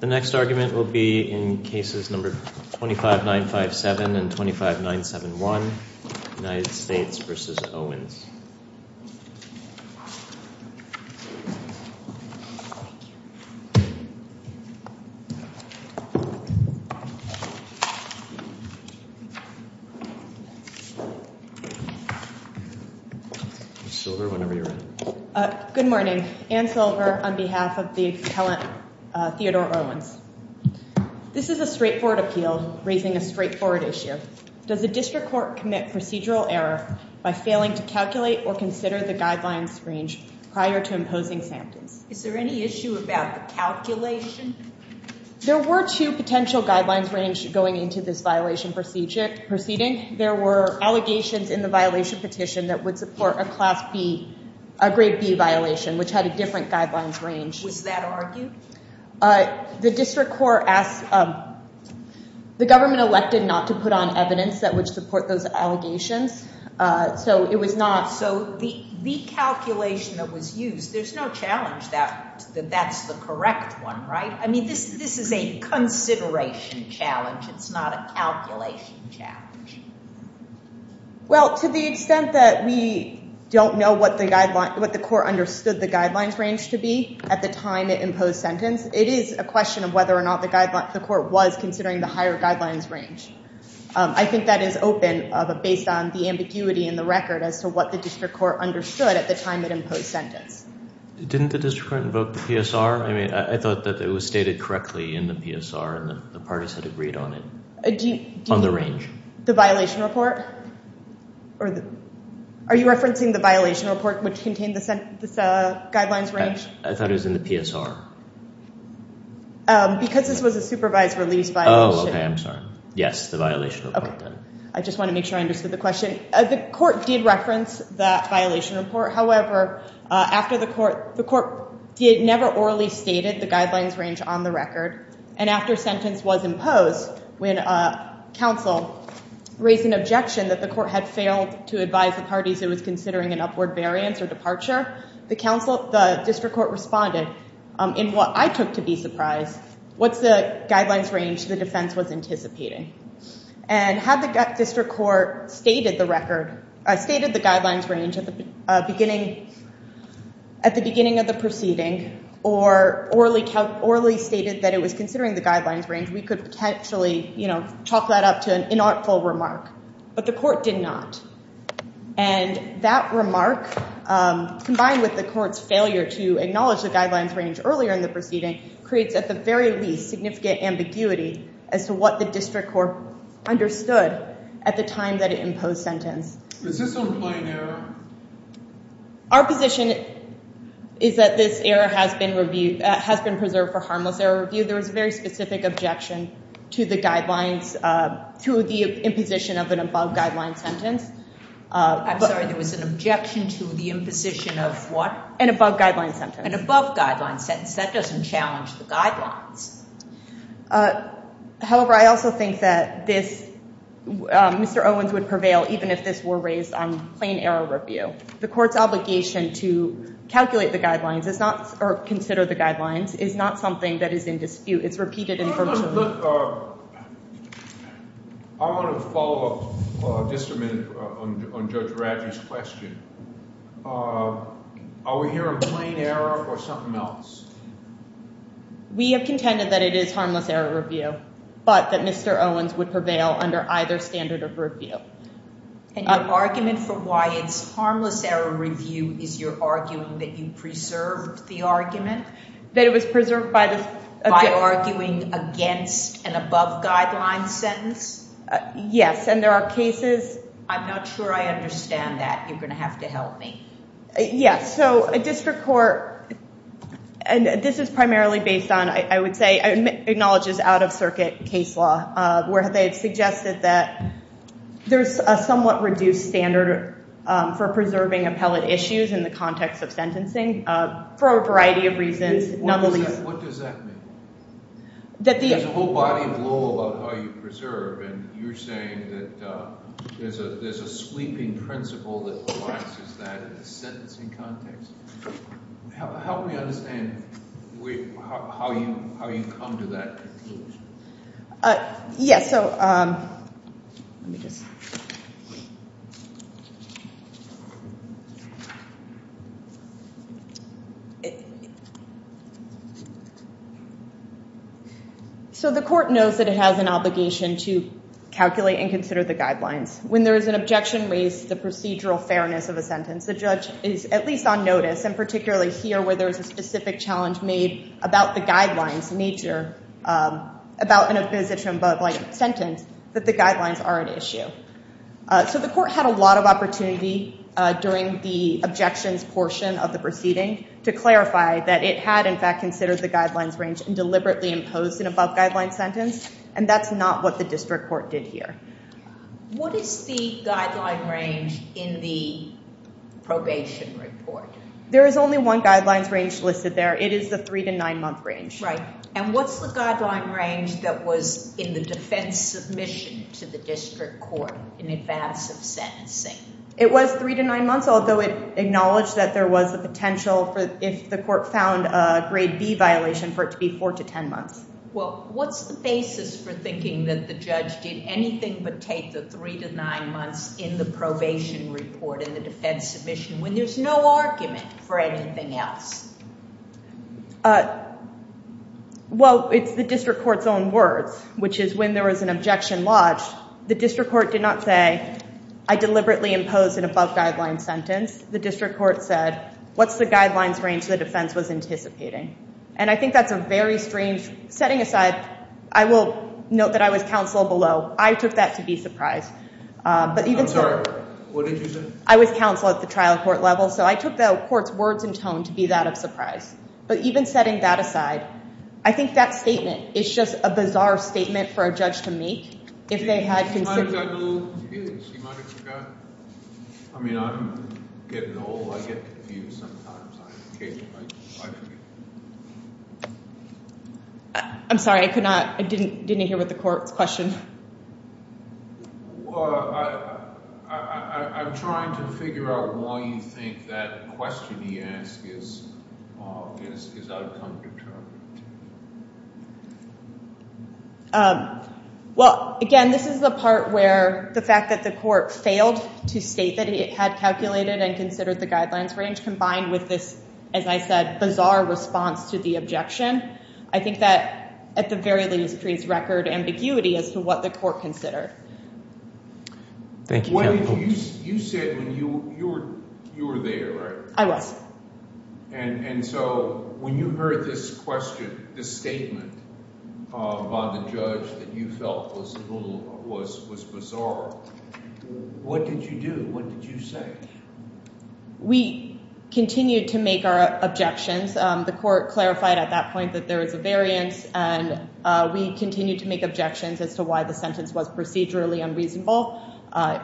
The next argument will be in cases number 25957 and 25971, United States v. Owens. Anne Silver on behalf of the appellant Theodore Owens. This is a straightforward appeal raising a straightforward issue. Does the district court commit procedural error by failing to calculate or consider the guidelines range prior to imposing sentence? Is there any issue about the calculation? There were two potential guidelines range going into this violation proceeding. There were allegations in the violation petition that would support a class B, a grade B violation, which had a different guidelines range. Was that argued? The district court asked, the government elected not to put on evidence that would support those allegations. So it was not. So the calculation that was used, there's no challenge that that's the correct one, right? I mean, this is a consideration challenge. It's not a calculation challenge. Well, to the extent that we don't know what the court understood the guidelines range to be at the time it imposed sentence, it is a question of whether or not the court was considering the guidelines range. I think that is open based on the ambiguity in the record as to what the district court understood at the time it imposed sentence. Didn't the district court invoke the PSR? I mean, I thought that it was stated correctly in the PSR and the parties had agreed on it, on the range. The violation report? Are you referencing the violation report which contained the guidelines range? I thought it was in the PSR. Because this was a supervised release violation. Oh, okay. I'm sorry. Yes. The violation report then. I just want to make sure I understood the question. The court did reference that violation report. However, after the court, the court never orally stated the guidelines range on the record. And after sentence was imposed, when counsel raised an objection that the court had failed to advise the parties it was considering an upward variance or departure, the district court responded in what I took to be surprised, what's the guidelines range the defense was anticipating. And had the district court stated the record, stated the guidelines range at the beginning of the proceeding or orally stated that it was considering the guidelines range, we could potentially chalk that up to an inartful remark. But the court did not. And that remark, combined with the court's failure to acknowledge the guidelines range earlier in the proceeding, creates at the very least significant ambiguity as to what the district court understood at the time that it imposed sentence. Is this an implied error? Our position is that this error has been reviewed, has been preserved for harmless error review. There was a specific objection to the guidelines, to the imposition of an above-guidelines sentence. I'm sorry, there was an objection to the imposition of what? An above-guidelines sentence. An above-guidelines sentence, that doesn't challenge the guidelines. However, I also think that this, Mr. Owens would prevail even if this were raised on plain error review. The court's obligation to calculate the guidelines is not, or consider the guidelines, is not something that is in dispute. It's repeated information. I want to follow up just a minute on Judge Radley's question. Are we hearing plain error or something else? We have contended that it is harmless error review, but that Mr. Owens would prevail under either standard of review. And your argument for why it's harmless error review is you're arguing that you preserved the argument? That it was preserved by the? By arguing against an above-guidelines sentence? Yes, and there are cases. I'm not sure I understand that. You're going to have to help me. Yes, so a district court, and this is primarily based on, I would say, acknowledges out-of-circuit case law, where they've suggested that there's a somewhat reduced standard for preserving appellate issues in the context of sentencing for a variety of reasons. What does that mean? There's a whole body of law about how you preserve, and you're saying that there's a sweeping principle that provides that in the sentencing context. Help me understand how you come to that conclusion. Yes, so let me just So the court knows that it has an obligation to calculate and consider the guidelines. When there is an objection raised to the procedural fairness of a sentence, the judge is at least on notice, and particularly here where there's a specific challenge made about the guidelines nature, about an opposition above-guidelines sentence, that the guidelines are an issue. So the court had a lot of opportunity during the objections portion of the proceeding to clarify that it had, in fact, considered the guidelines range and deliberately imposed an above-guidelines sentence, and that's not what the district court did here. What is the guideline range in the probation report? There is only one guidelines range listed there. It is the three to nine month range. Right, and what's the guideline range that was in the defense submission to the district court in advance of sentencing? It was three to nine months, although it acknowledged that there was a potential for, if the court found a grade B violation, for it to be four to ten months. Well, what's the basis for thinking that the judge did anything but take the three to nine months in the probation report in the defense submission when there's no argument for anything else? Well, it's the district court's own words, which is when there was an objection lodged, the district court did not say, I deliberately imposed an above-guidelines sentence. The district court said, what's the guidelines range the defense was anticipating? And I think that's a very strange setting aside. I will note that I was counsel below. I took that to be surprised. I'm sorry, what did you say? I was counsel at the trial court level, so I took the court's words and tone to be that of surprise. But even setting that aside, I think that statement is just a bizarre statement for a judge to make. I'm sorry, I couldn't hear what the court's question was. Well, again, this is the part where the fact that the court failed to state that it had calculated and considered the guidelines range combined with this, as I said, bizarre response to the objection. I think that at the very least, creates record ambiguity as to what the court considered. Thank you. You said when you were there, right? I was. And so when you heard this question, this statement by the judge that you felt was bizarre, what did you do? What did you say? We continued to make our objections. The court clarified at that point that there was a variance and we continued to make objections as to why the sentence was procedurally unreasonable,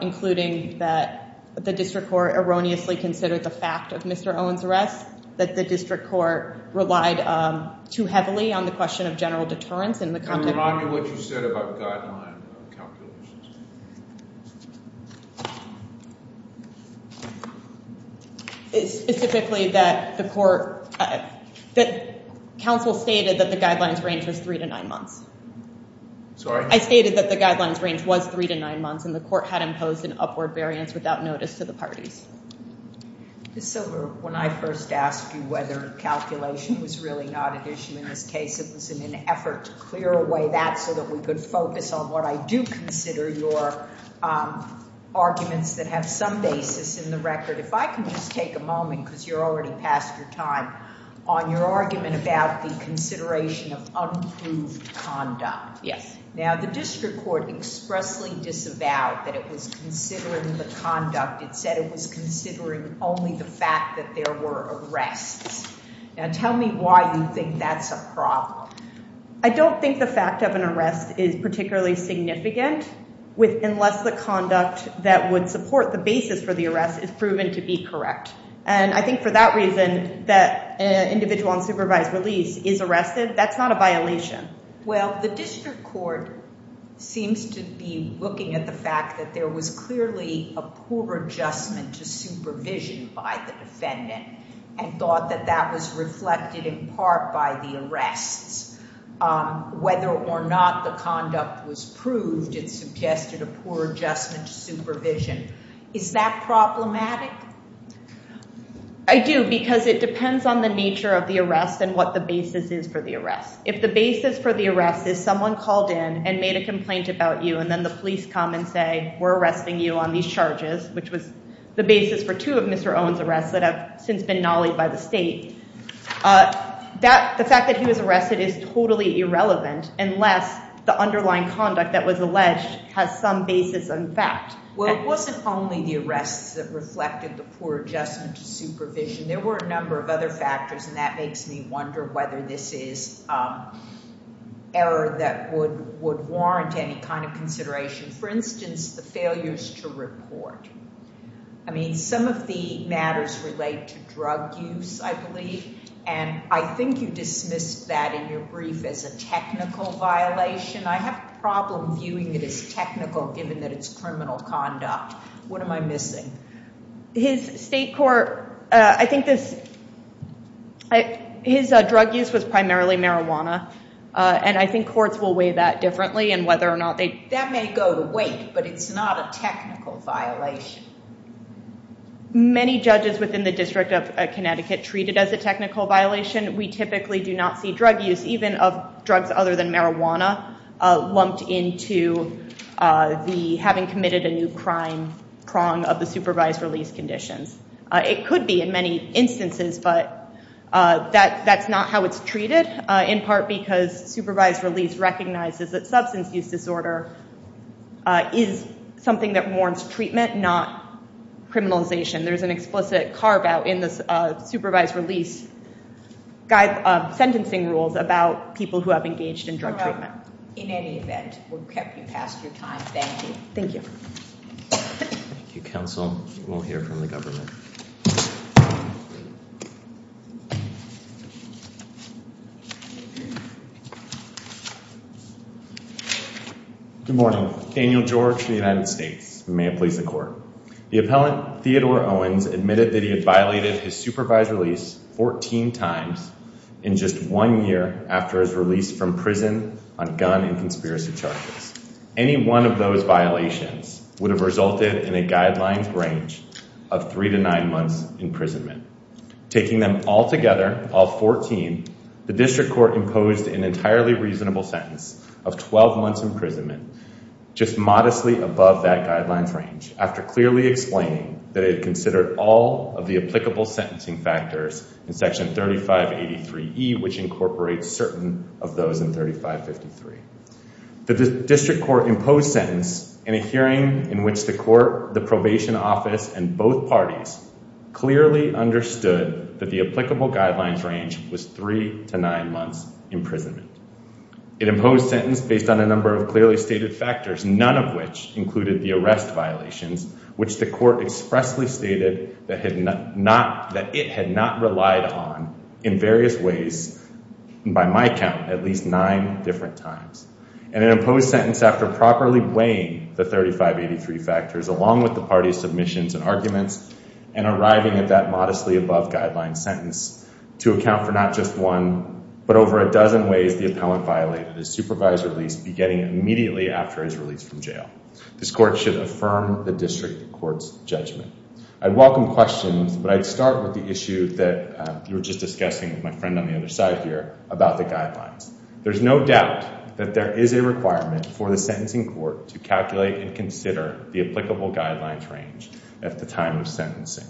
including that the district court erroneously considered the fact of Mr. Owen's arrest, that the district court relied too heavily on the question of general discretion. Specifically that the court, that counsel stated that the guidelines range was three to nine months. Sorry? I stated that the guidelines range was three to nine months and the court had imposed an upward variance without notice to the parties. So when I first asked you whether calculation was really not an issue in this case, it was an effort to clear away that focus on what I do consider your arguments that have some basis in the record. If I can just take a moment because you're already past your time on your argument about the consideration of unproved conduct. Yes. Now the district court expressly disavowed that it was considering the conduct. It said it was considering only the fact that there were arrests. Now tell me why you think that's a problem. I don't think the fact of an arrest is particularly significant unless the conduct that would support the basis for the arrest is proven to be correct. And I think for that reason that an individual on supervised release is arrested. That's not a violation. Well, the district court seems to be looking at the fact that there was clearly a poor adjustment to supervision by the defendant and thought that that was reflected in part by the arrests. Whether or not the conduct was proved, it suggested a poor adjustment to supervision. Is that problematic? I do because it depends on the nature of the arrest and what the basis is for the arrest. If the basis for the arrest is someone called in and made a complaint about you and then the police come and say we're arresting you on these charges, which was the basis for two of Mr. Owen's arrests that have since been nollied by the state. The fact that he was arrested is totally irrelevant unless the underlying conduct that was alleged has some basis in fact. Well, it wasn't only the arrests that reflected the poor adjustment to supervision. There were a number of other factors and that makes me wonder whether this is error that would warrant any kind of consideration. For instance, the failures to report. I mean some of the matters relate to drug use, I believe, and I think you dismissed that in your brief as a technical violation. I have a problem viewing it as technical given that it's criminal conduct. What am I missing? His drug use was primarily marijuana and I think courts will weigh that differently and whether or not they... That may go to weight, but it's not a technical violation. Many judges within the District of Connecticut treat it as a technical violation. We typically do not see drug use, even of drugs other than marijuana, lumped into having committed a new crime prong of the supervised release conditions. It could be in many instances, but that's not how it's treated in part because supervised release recognizes that substance use disorder is something that warrants treatment, not criminalization. There's an explicit carve-out in this supervised release sentencing rules about people who have engaged in drug treatment. In any event, we've kept you past your time. Thank you. Thank you. Thank you, counsel. We'll hear from the government. Good morning. Daniel George for the United States. May it please the court. The appellant, Theodore Owens, admitted that he had violated his supervised release 14 times in just one year after his release from prison on gun and conspiracy charges. Any one of those violations would have resulted in a guidelines range of three to nine months imprisonment. Taking them all together, all 14, the district court imposed an entirely reasonable sentence of 12 months imprisonment, just modestly above that guidelines range, after clearly explaining that it considered all of the sentencing factors in section 3583E, which incorporates certain of those in 3553. The district court imposed sentence in a hearing in which the court, the probation office, and both parties clearly understood that the applicable guidelines range was three to nine months imprisonment. It imposed sentence based on a number of clearly stated factors, none of which included the arrest violations, which the court expressly stated that it had not relied on in various ways, by my count, at least nine different times. And it imposed sentence after properly weighing the 3583 factors, along with the party's submissions and arguments, and arriving at that modestly above guideline sentence to account for not just one, but over a dozen ways the defendant violated his supervised release beginning immediately after his release from jail. This court should affirm the district court's judgment. I'd welcome questions, but I'd start with the issue that you were just discussing with my friend on the other side here about the guidelines. There's no doubt that there is a requirement for the sentencing court to calculate and consider the applicable guidelines range at the time of sentencing.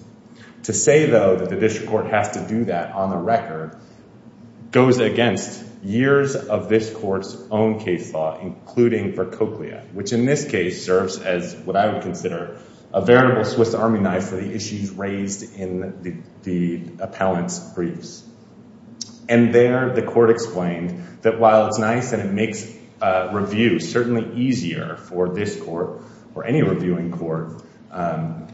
To say, though, that the court's own case law, including for Cochlea, which in this case serves as what I would consider a veritable Swiss army knife for the issues raised in the appellant's briefs. And there, the court explained that while it's nice and it makes review certainly easier for this court, or any reviewing court,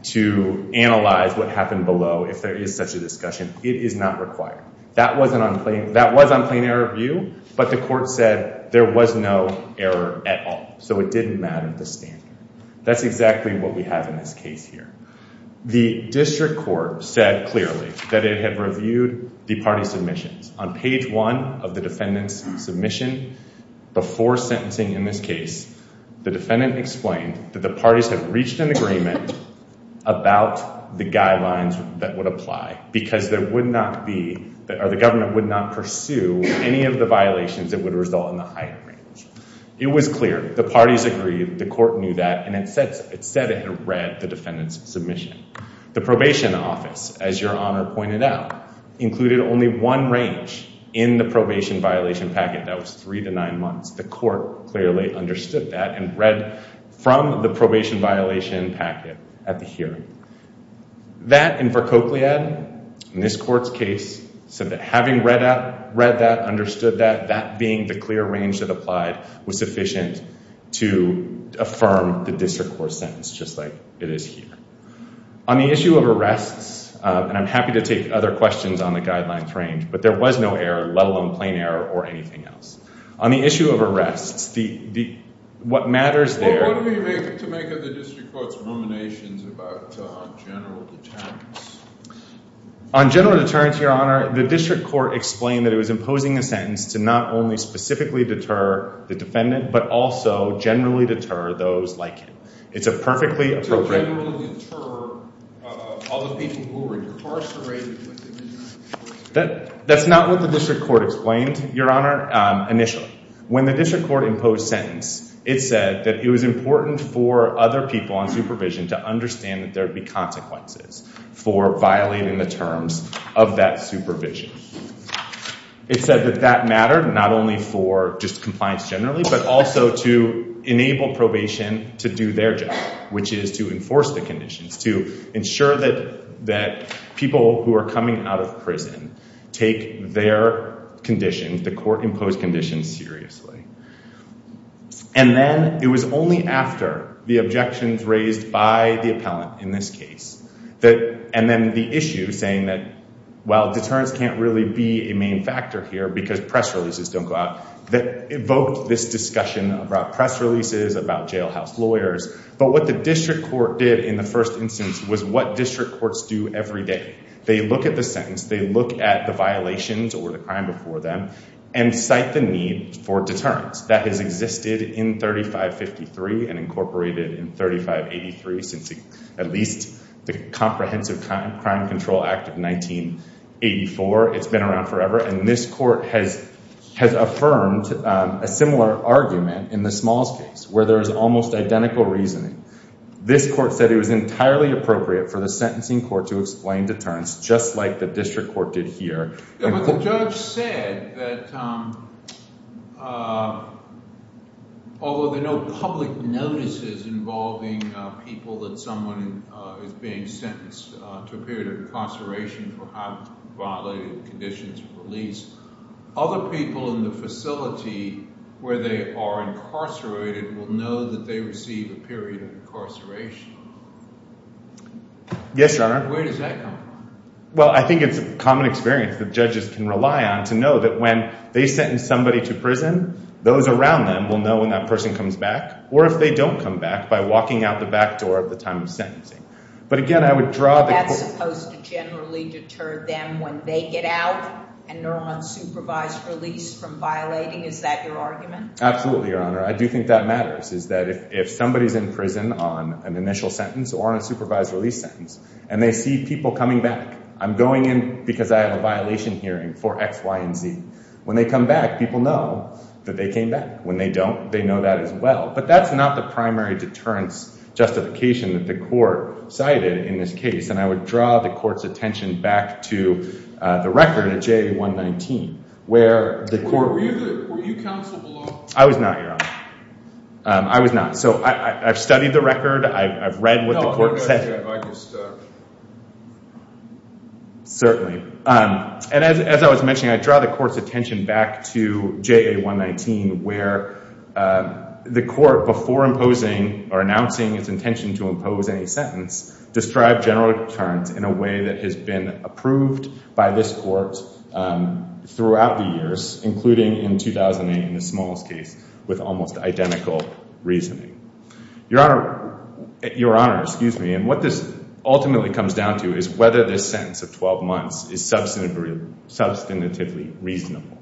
to analyze what happened below if there is such a discussion, it is not required. That was on plain error view, but the court said there was no error at all, so it didn't matter the standard. That's exactly what we have in this case here. The district court said clearly that it had reviewed the party's submissions. On page one of the defendant's submission before sentencing in this case, the defendant explained that the parties had reached an agreement about the guidelines that would apply because there would not be, or the government would not pursue any of the violations that would result in the higher range. It was clear, the parties agreed, the court knew that, and it said it had read the defendant's submission. The probation office, as your Honor pointed out, included only one range in the probation violation packet. That was three to nine months. The court clearly understood that and read from the probation violation packet at the hearing. That, and for Cochlead, in this court's case, said that having read that, understood that, that being the clear range that applied was sufficient to affirm the district court sentence, just like it is here. On the issue of arrests, and I'm happy to take other questions on the guidelines range, but there was no error, let alone plain error or anything else. On the issue of arrests, what matters there... Well, what do you make of the district court's ruminations about general deterrence? On general deterrence, your Honor, the district court explained that it was imposing a sentence to not only specifically deter the defendant, but also generally deter those like him. It's a perfectly appropriate... To generally deter all the people who were incarcerated with him in that case? That's not what the district court explained, your Honor, initially. When the district court imposed sentence, it said that it was important for other people on supervision to understand that there would be consequences for violating the terms of that supervision. It said that that mattered not only for just compliance generally, but also to enable probation to do their job, which is to enforce the conditions, to ensure that people who are coming out of prison take their conditions, the court-imposed conditions, seriously. And then it was only after the objections raised by the appellant in this case, and then the issue saying that, well, deterrence can't really be a main factor here because press releases don't go out, that evoked this discussion about press releases, about jailhouse lawyers. But what the district court did in the first instance was what district courts do every day. They look at the sentence. They look at the violations or the crime before them and cite the need for deterrence. That has existed in 3553 and incorporated in 3583, since at least the Comprehensive Crime Control Act of 1984. It's been around forever. And this has affirmed a similar argument in the Smalls case, where there is almost identical reasoning. This court said it was entirely appropriate for the sentencing court to explain deterrence, just like the district court did here. But the judge said that, although there are no public notices involving people that someone is being sentenced to a period of incarceration for having violated conditions of release, other people in the facility where they are incarcerated will know that they receive a period of incarceration. Yes, Your Honor. Where does that come from? Well, I think it's a common experience that judges can rely on to know that when they sentence somebody to prison, those around them will know when that person comes back, or if they don't come back, by walking out the back door at the time of sentencing. But again, I would draw the court- Is that supposed to generally deter them when they get out and they're on supervised release from violating? Is that your argument? Absolutely, Your Honor. I do think that matters, is that if somebody's in prison on an initial sentence or on a supervised release sentence, and they see people coming back, I'm going in because I have a violation hearing for X, Y, and Z. When they come back, people know that they came back. When they don't, they know that as well. But that's not the primary deterrence justification that the court cited in this case. And I would draw the court's attention back to the record of JA119, where the court- Were you counsel below? I was not, Your Honor. I was not. So I've studied the record. I've read what the court said. No, you're not. You're stuck. Certainly. And as I was mentioning, I draw the court's attention back to JA119, where the court, before imposing or announcing its intention to impose any sentence, described general deterrence in a way that has been approved by this court throughout the years, including in 2008 in the Smalls case with almost identical reasoning. Your Honor, excuse me, and what this ultimately comes down to is whether this sentence of 12 months is substantively reasonable.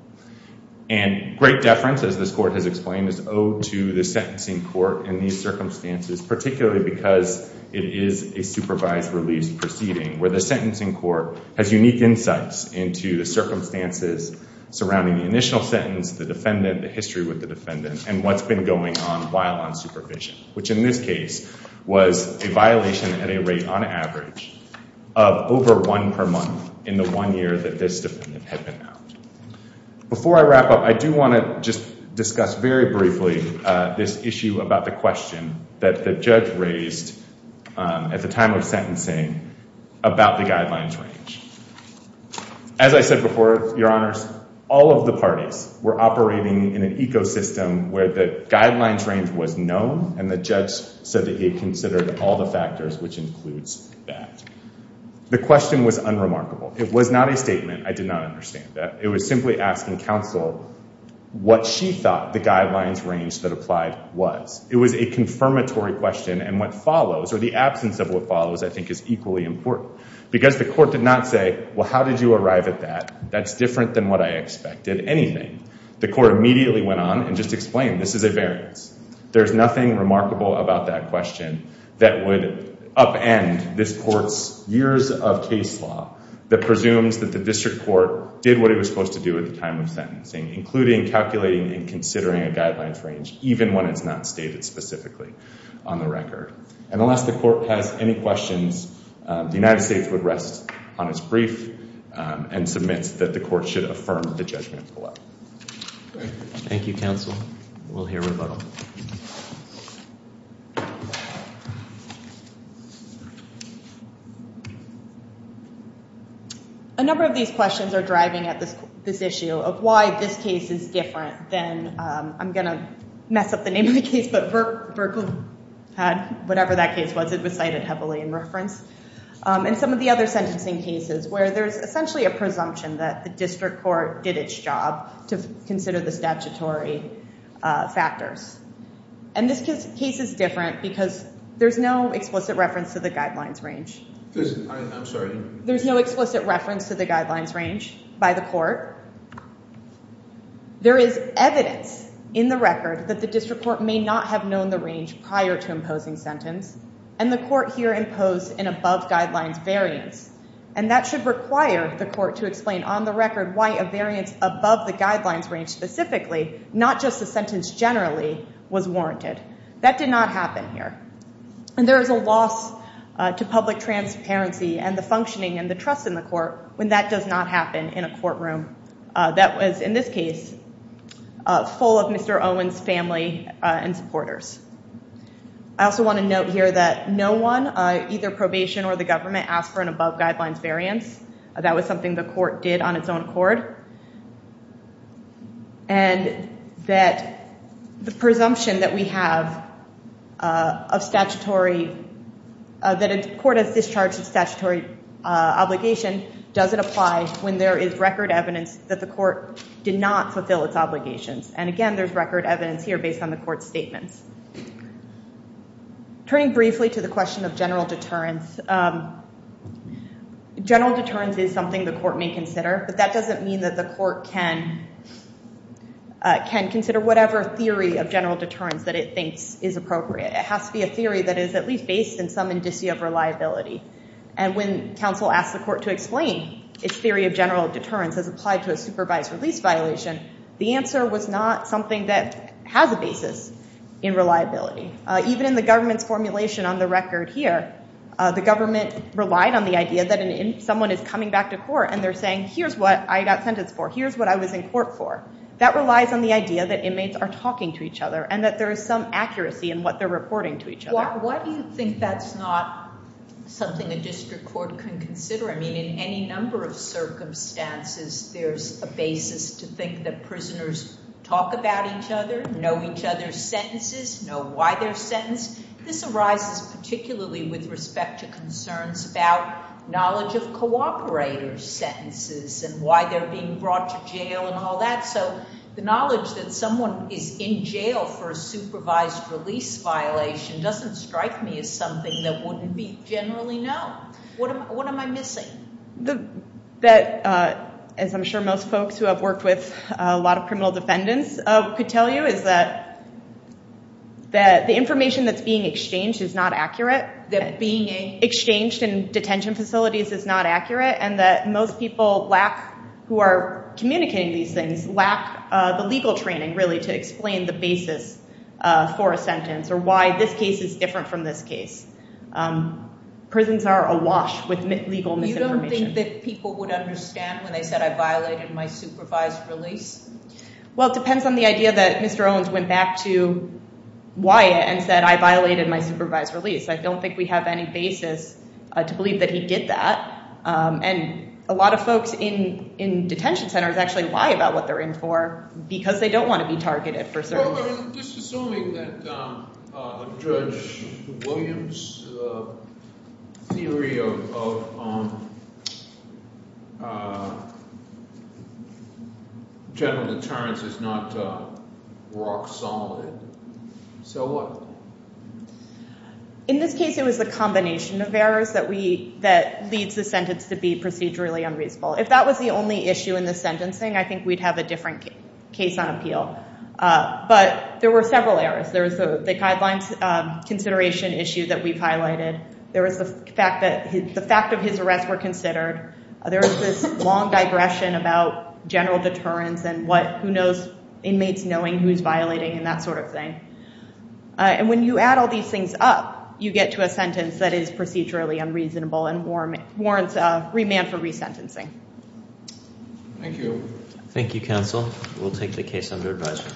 And great deference, as this court has explained, is owed to the sentencing court in these circumstances, particularly because it is a supervised release proceeding where the sentencing court has unique insights into the circumstances surrounding the initial sentence, the defendant, the history with the defendant, and what's been going on while on supervision, which in this case was a violation at a rate on average of over one per month in the one year that this defendant had been out. Before I wrap up, I do want to just discuss very briefly this issue about the question that the judge raised at the time of sentencing about the guidelines range. As I said before, Your Honors, all of the parties were operating in an ecosystem where the guidelines range was known, and the judge said that he had considered all the factors, which includes that. The question was unremarkable. It was not a statement. I did not understand that. It was simply asking counsel what she thought the guidelines range that applied was. It was a confirmatory question, and what follows or the absence of what follows I think is equally important because the court did not say, well, how did you arrive at that? That's different than what I expected. Anything. The court immediately went on and just explained this is a variance. There's nothing remarkable about that question that would upend this court's years of case law that presumes that the district court did what it was supposed to do at the time of sentencing, including calculating and considering a guidelines range, even when it's not stated specifically on the record. And unless the court has any questions, the United States would rest on its brief and submits that the court should affirm the judgment. Thank you, counsel. We'll hear rebuttal. A number of these questions are driving at this issue of why this case is different than, I'm going to mess up the name of the case, but Verko had, whatever that case was, it was cited heavily in reference. And some of the other sentencing cases where there's essentially a presumption that the court did its job to consider the statutory factors. And this case is different because there's no explicit reference to the guidelines range. I'm sorry. There's no explicit reference to the guidelines range by the court. There is evidence in the record that the district court may not have known the range prior to imposing sentence and the court here imposed an above guidelines variance. And that should require the court to explain on the record why a variance above the guidelines range specifically, not just the sentence generally, was warranted. That did not happen here. And there is a loss to public transparency and the functioning and the trust in the court when that does not happen in a courtroom that was, in this case, full of Mr. No one, either probation or the government, asked for an above guidelines variance. That was something the court did on its own accord. And that the presumption that we have of statutory, that a court has discharged a statutory obligation doesn't apply when there is record evidence that the court did not fulfill its obligations. And again, there's record evidence here based on the court's statements. Turning briefly to the question of general deterrence, general deterrence is something the court may consider, but that doesn't mean that the court can consider whatever theory of general deterrence that it thinks is appropriate. It has to be a theory that is at least based in some indicia of reliability. And when counsel asked the court to explain its theory of general deterrence as applied to a supervised release violation, the answer was not something that has a basis in reliability. Even in the government's formulation on the record here, the government relied on the idea that someone is coming back to court and they're saying, here's what I got sentenced for. Here's what I was in court for. That relies on the idea that inmates are talking to each other and that there is some accuracy in what they're reporting to each other. Why do you think that's not something a district court can consider? I think there's a basis to think that prisoners talk about each other, know each other's sentences, know why they're sentenced. This arises particularly with respect to concerns about knowledge of cooperator's sentences and why they're being brought to jail and all that. So the knowledge that someone is in jail for a supervised release violation doesn't strike me as something that wouldn't be generally known. What am I missing? The fact that, as I'm sure most folks who have worked with a lot of criminal defendants could tell you, is that the information that's being exchanged is not accurate. That being exchanged in detention facilities is not accurate and that most people who are communicating these things lack the legal training really to explain the basis for a sentence or why this is different from this case. Prisons are awash with legal misinformation. You don't think that people would understand when they said, I violated my supervised release? Well, it depends on the idea that Mr. Owens went back to Wyatt and said, I violated my supervised release. I don't think we have any basis to believe that he did that. And a lot of folks in detention centers actually lie about what they're in for because they don't want to be targeted for certain reasons. Just assuming that Judge Williams' theory of general deterrence is not rock solid, so what? In this case, it was the combination of errors that leads the sentence to be procedurally unreasonable. If that was the only issue in the sentencing, I think we'd have a different case on appeal. But there were several errors. There was the guidelines consideration issue that we've highlighted. There was the fact that the fact of his arrest were considered. There was this long digression about general deterrence and what, who knows, inmates knowing who's violating and that sort of thing. And when you add all these things up, you get to a sentence that is procedurally unreasonable and warrants remand for resentencing. Thank you. Thank you, counsel. We'll take the case under advisory.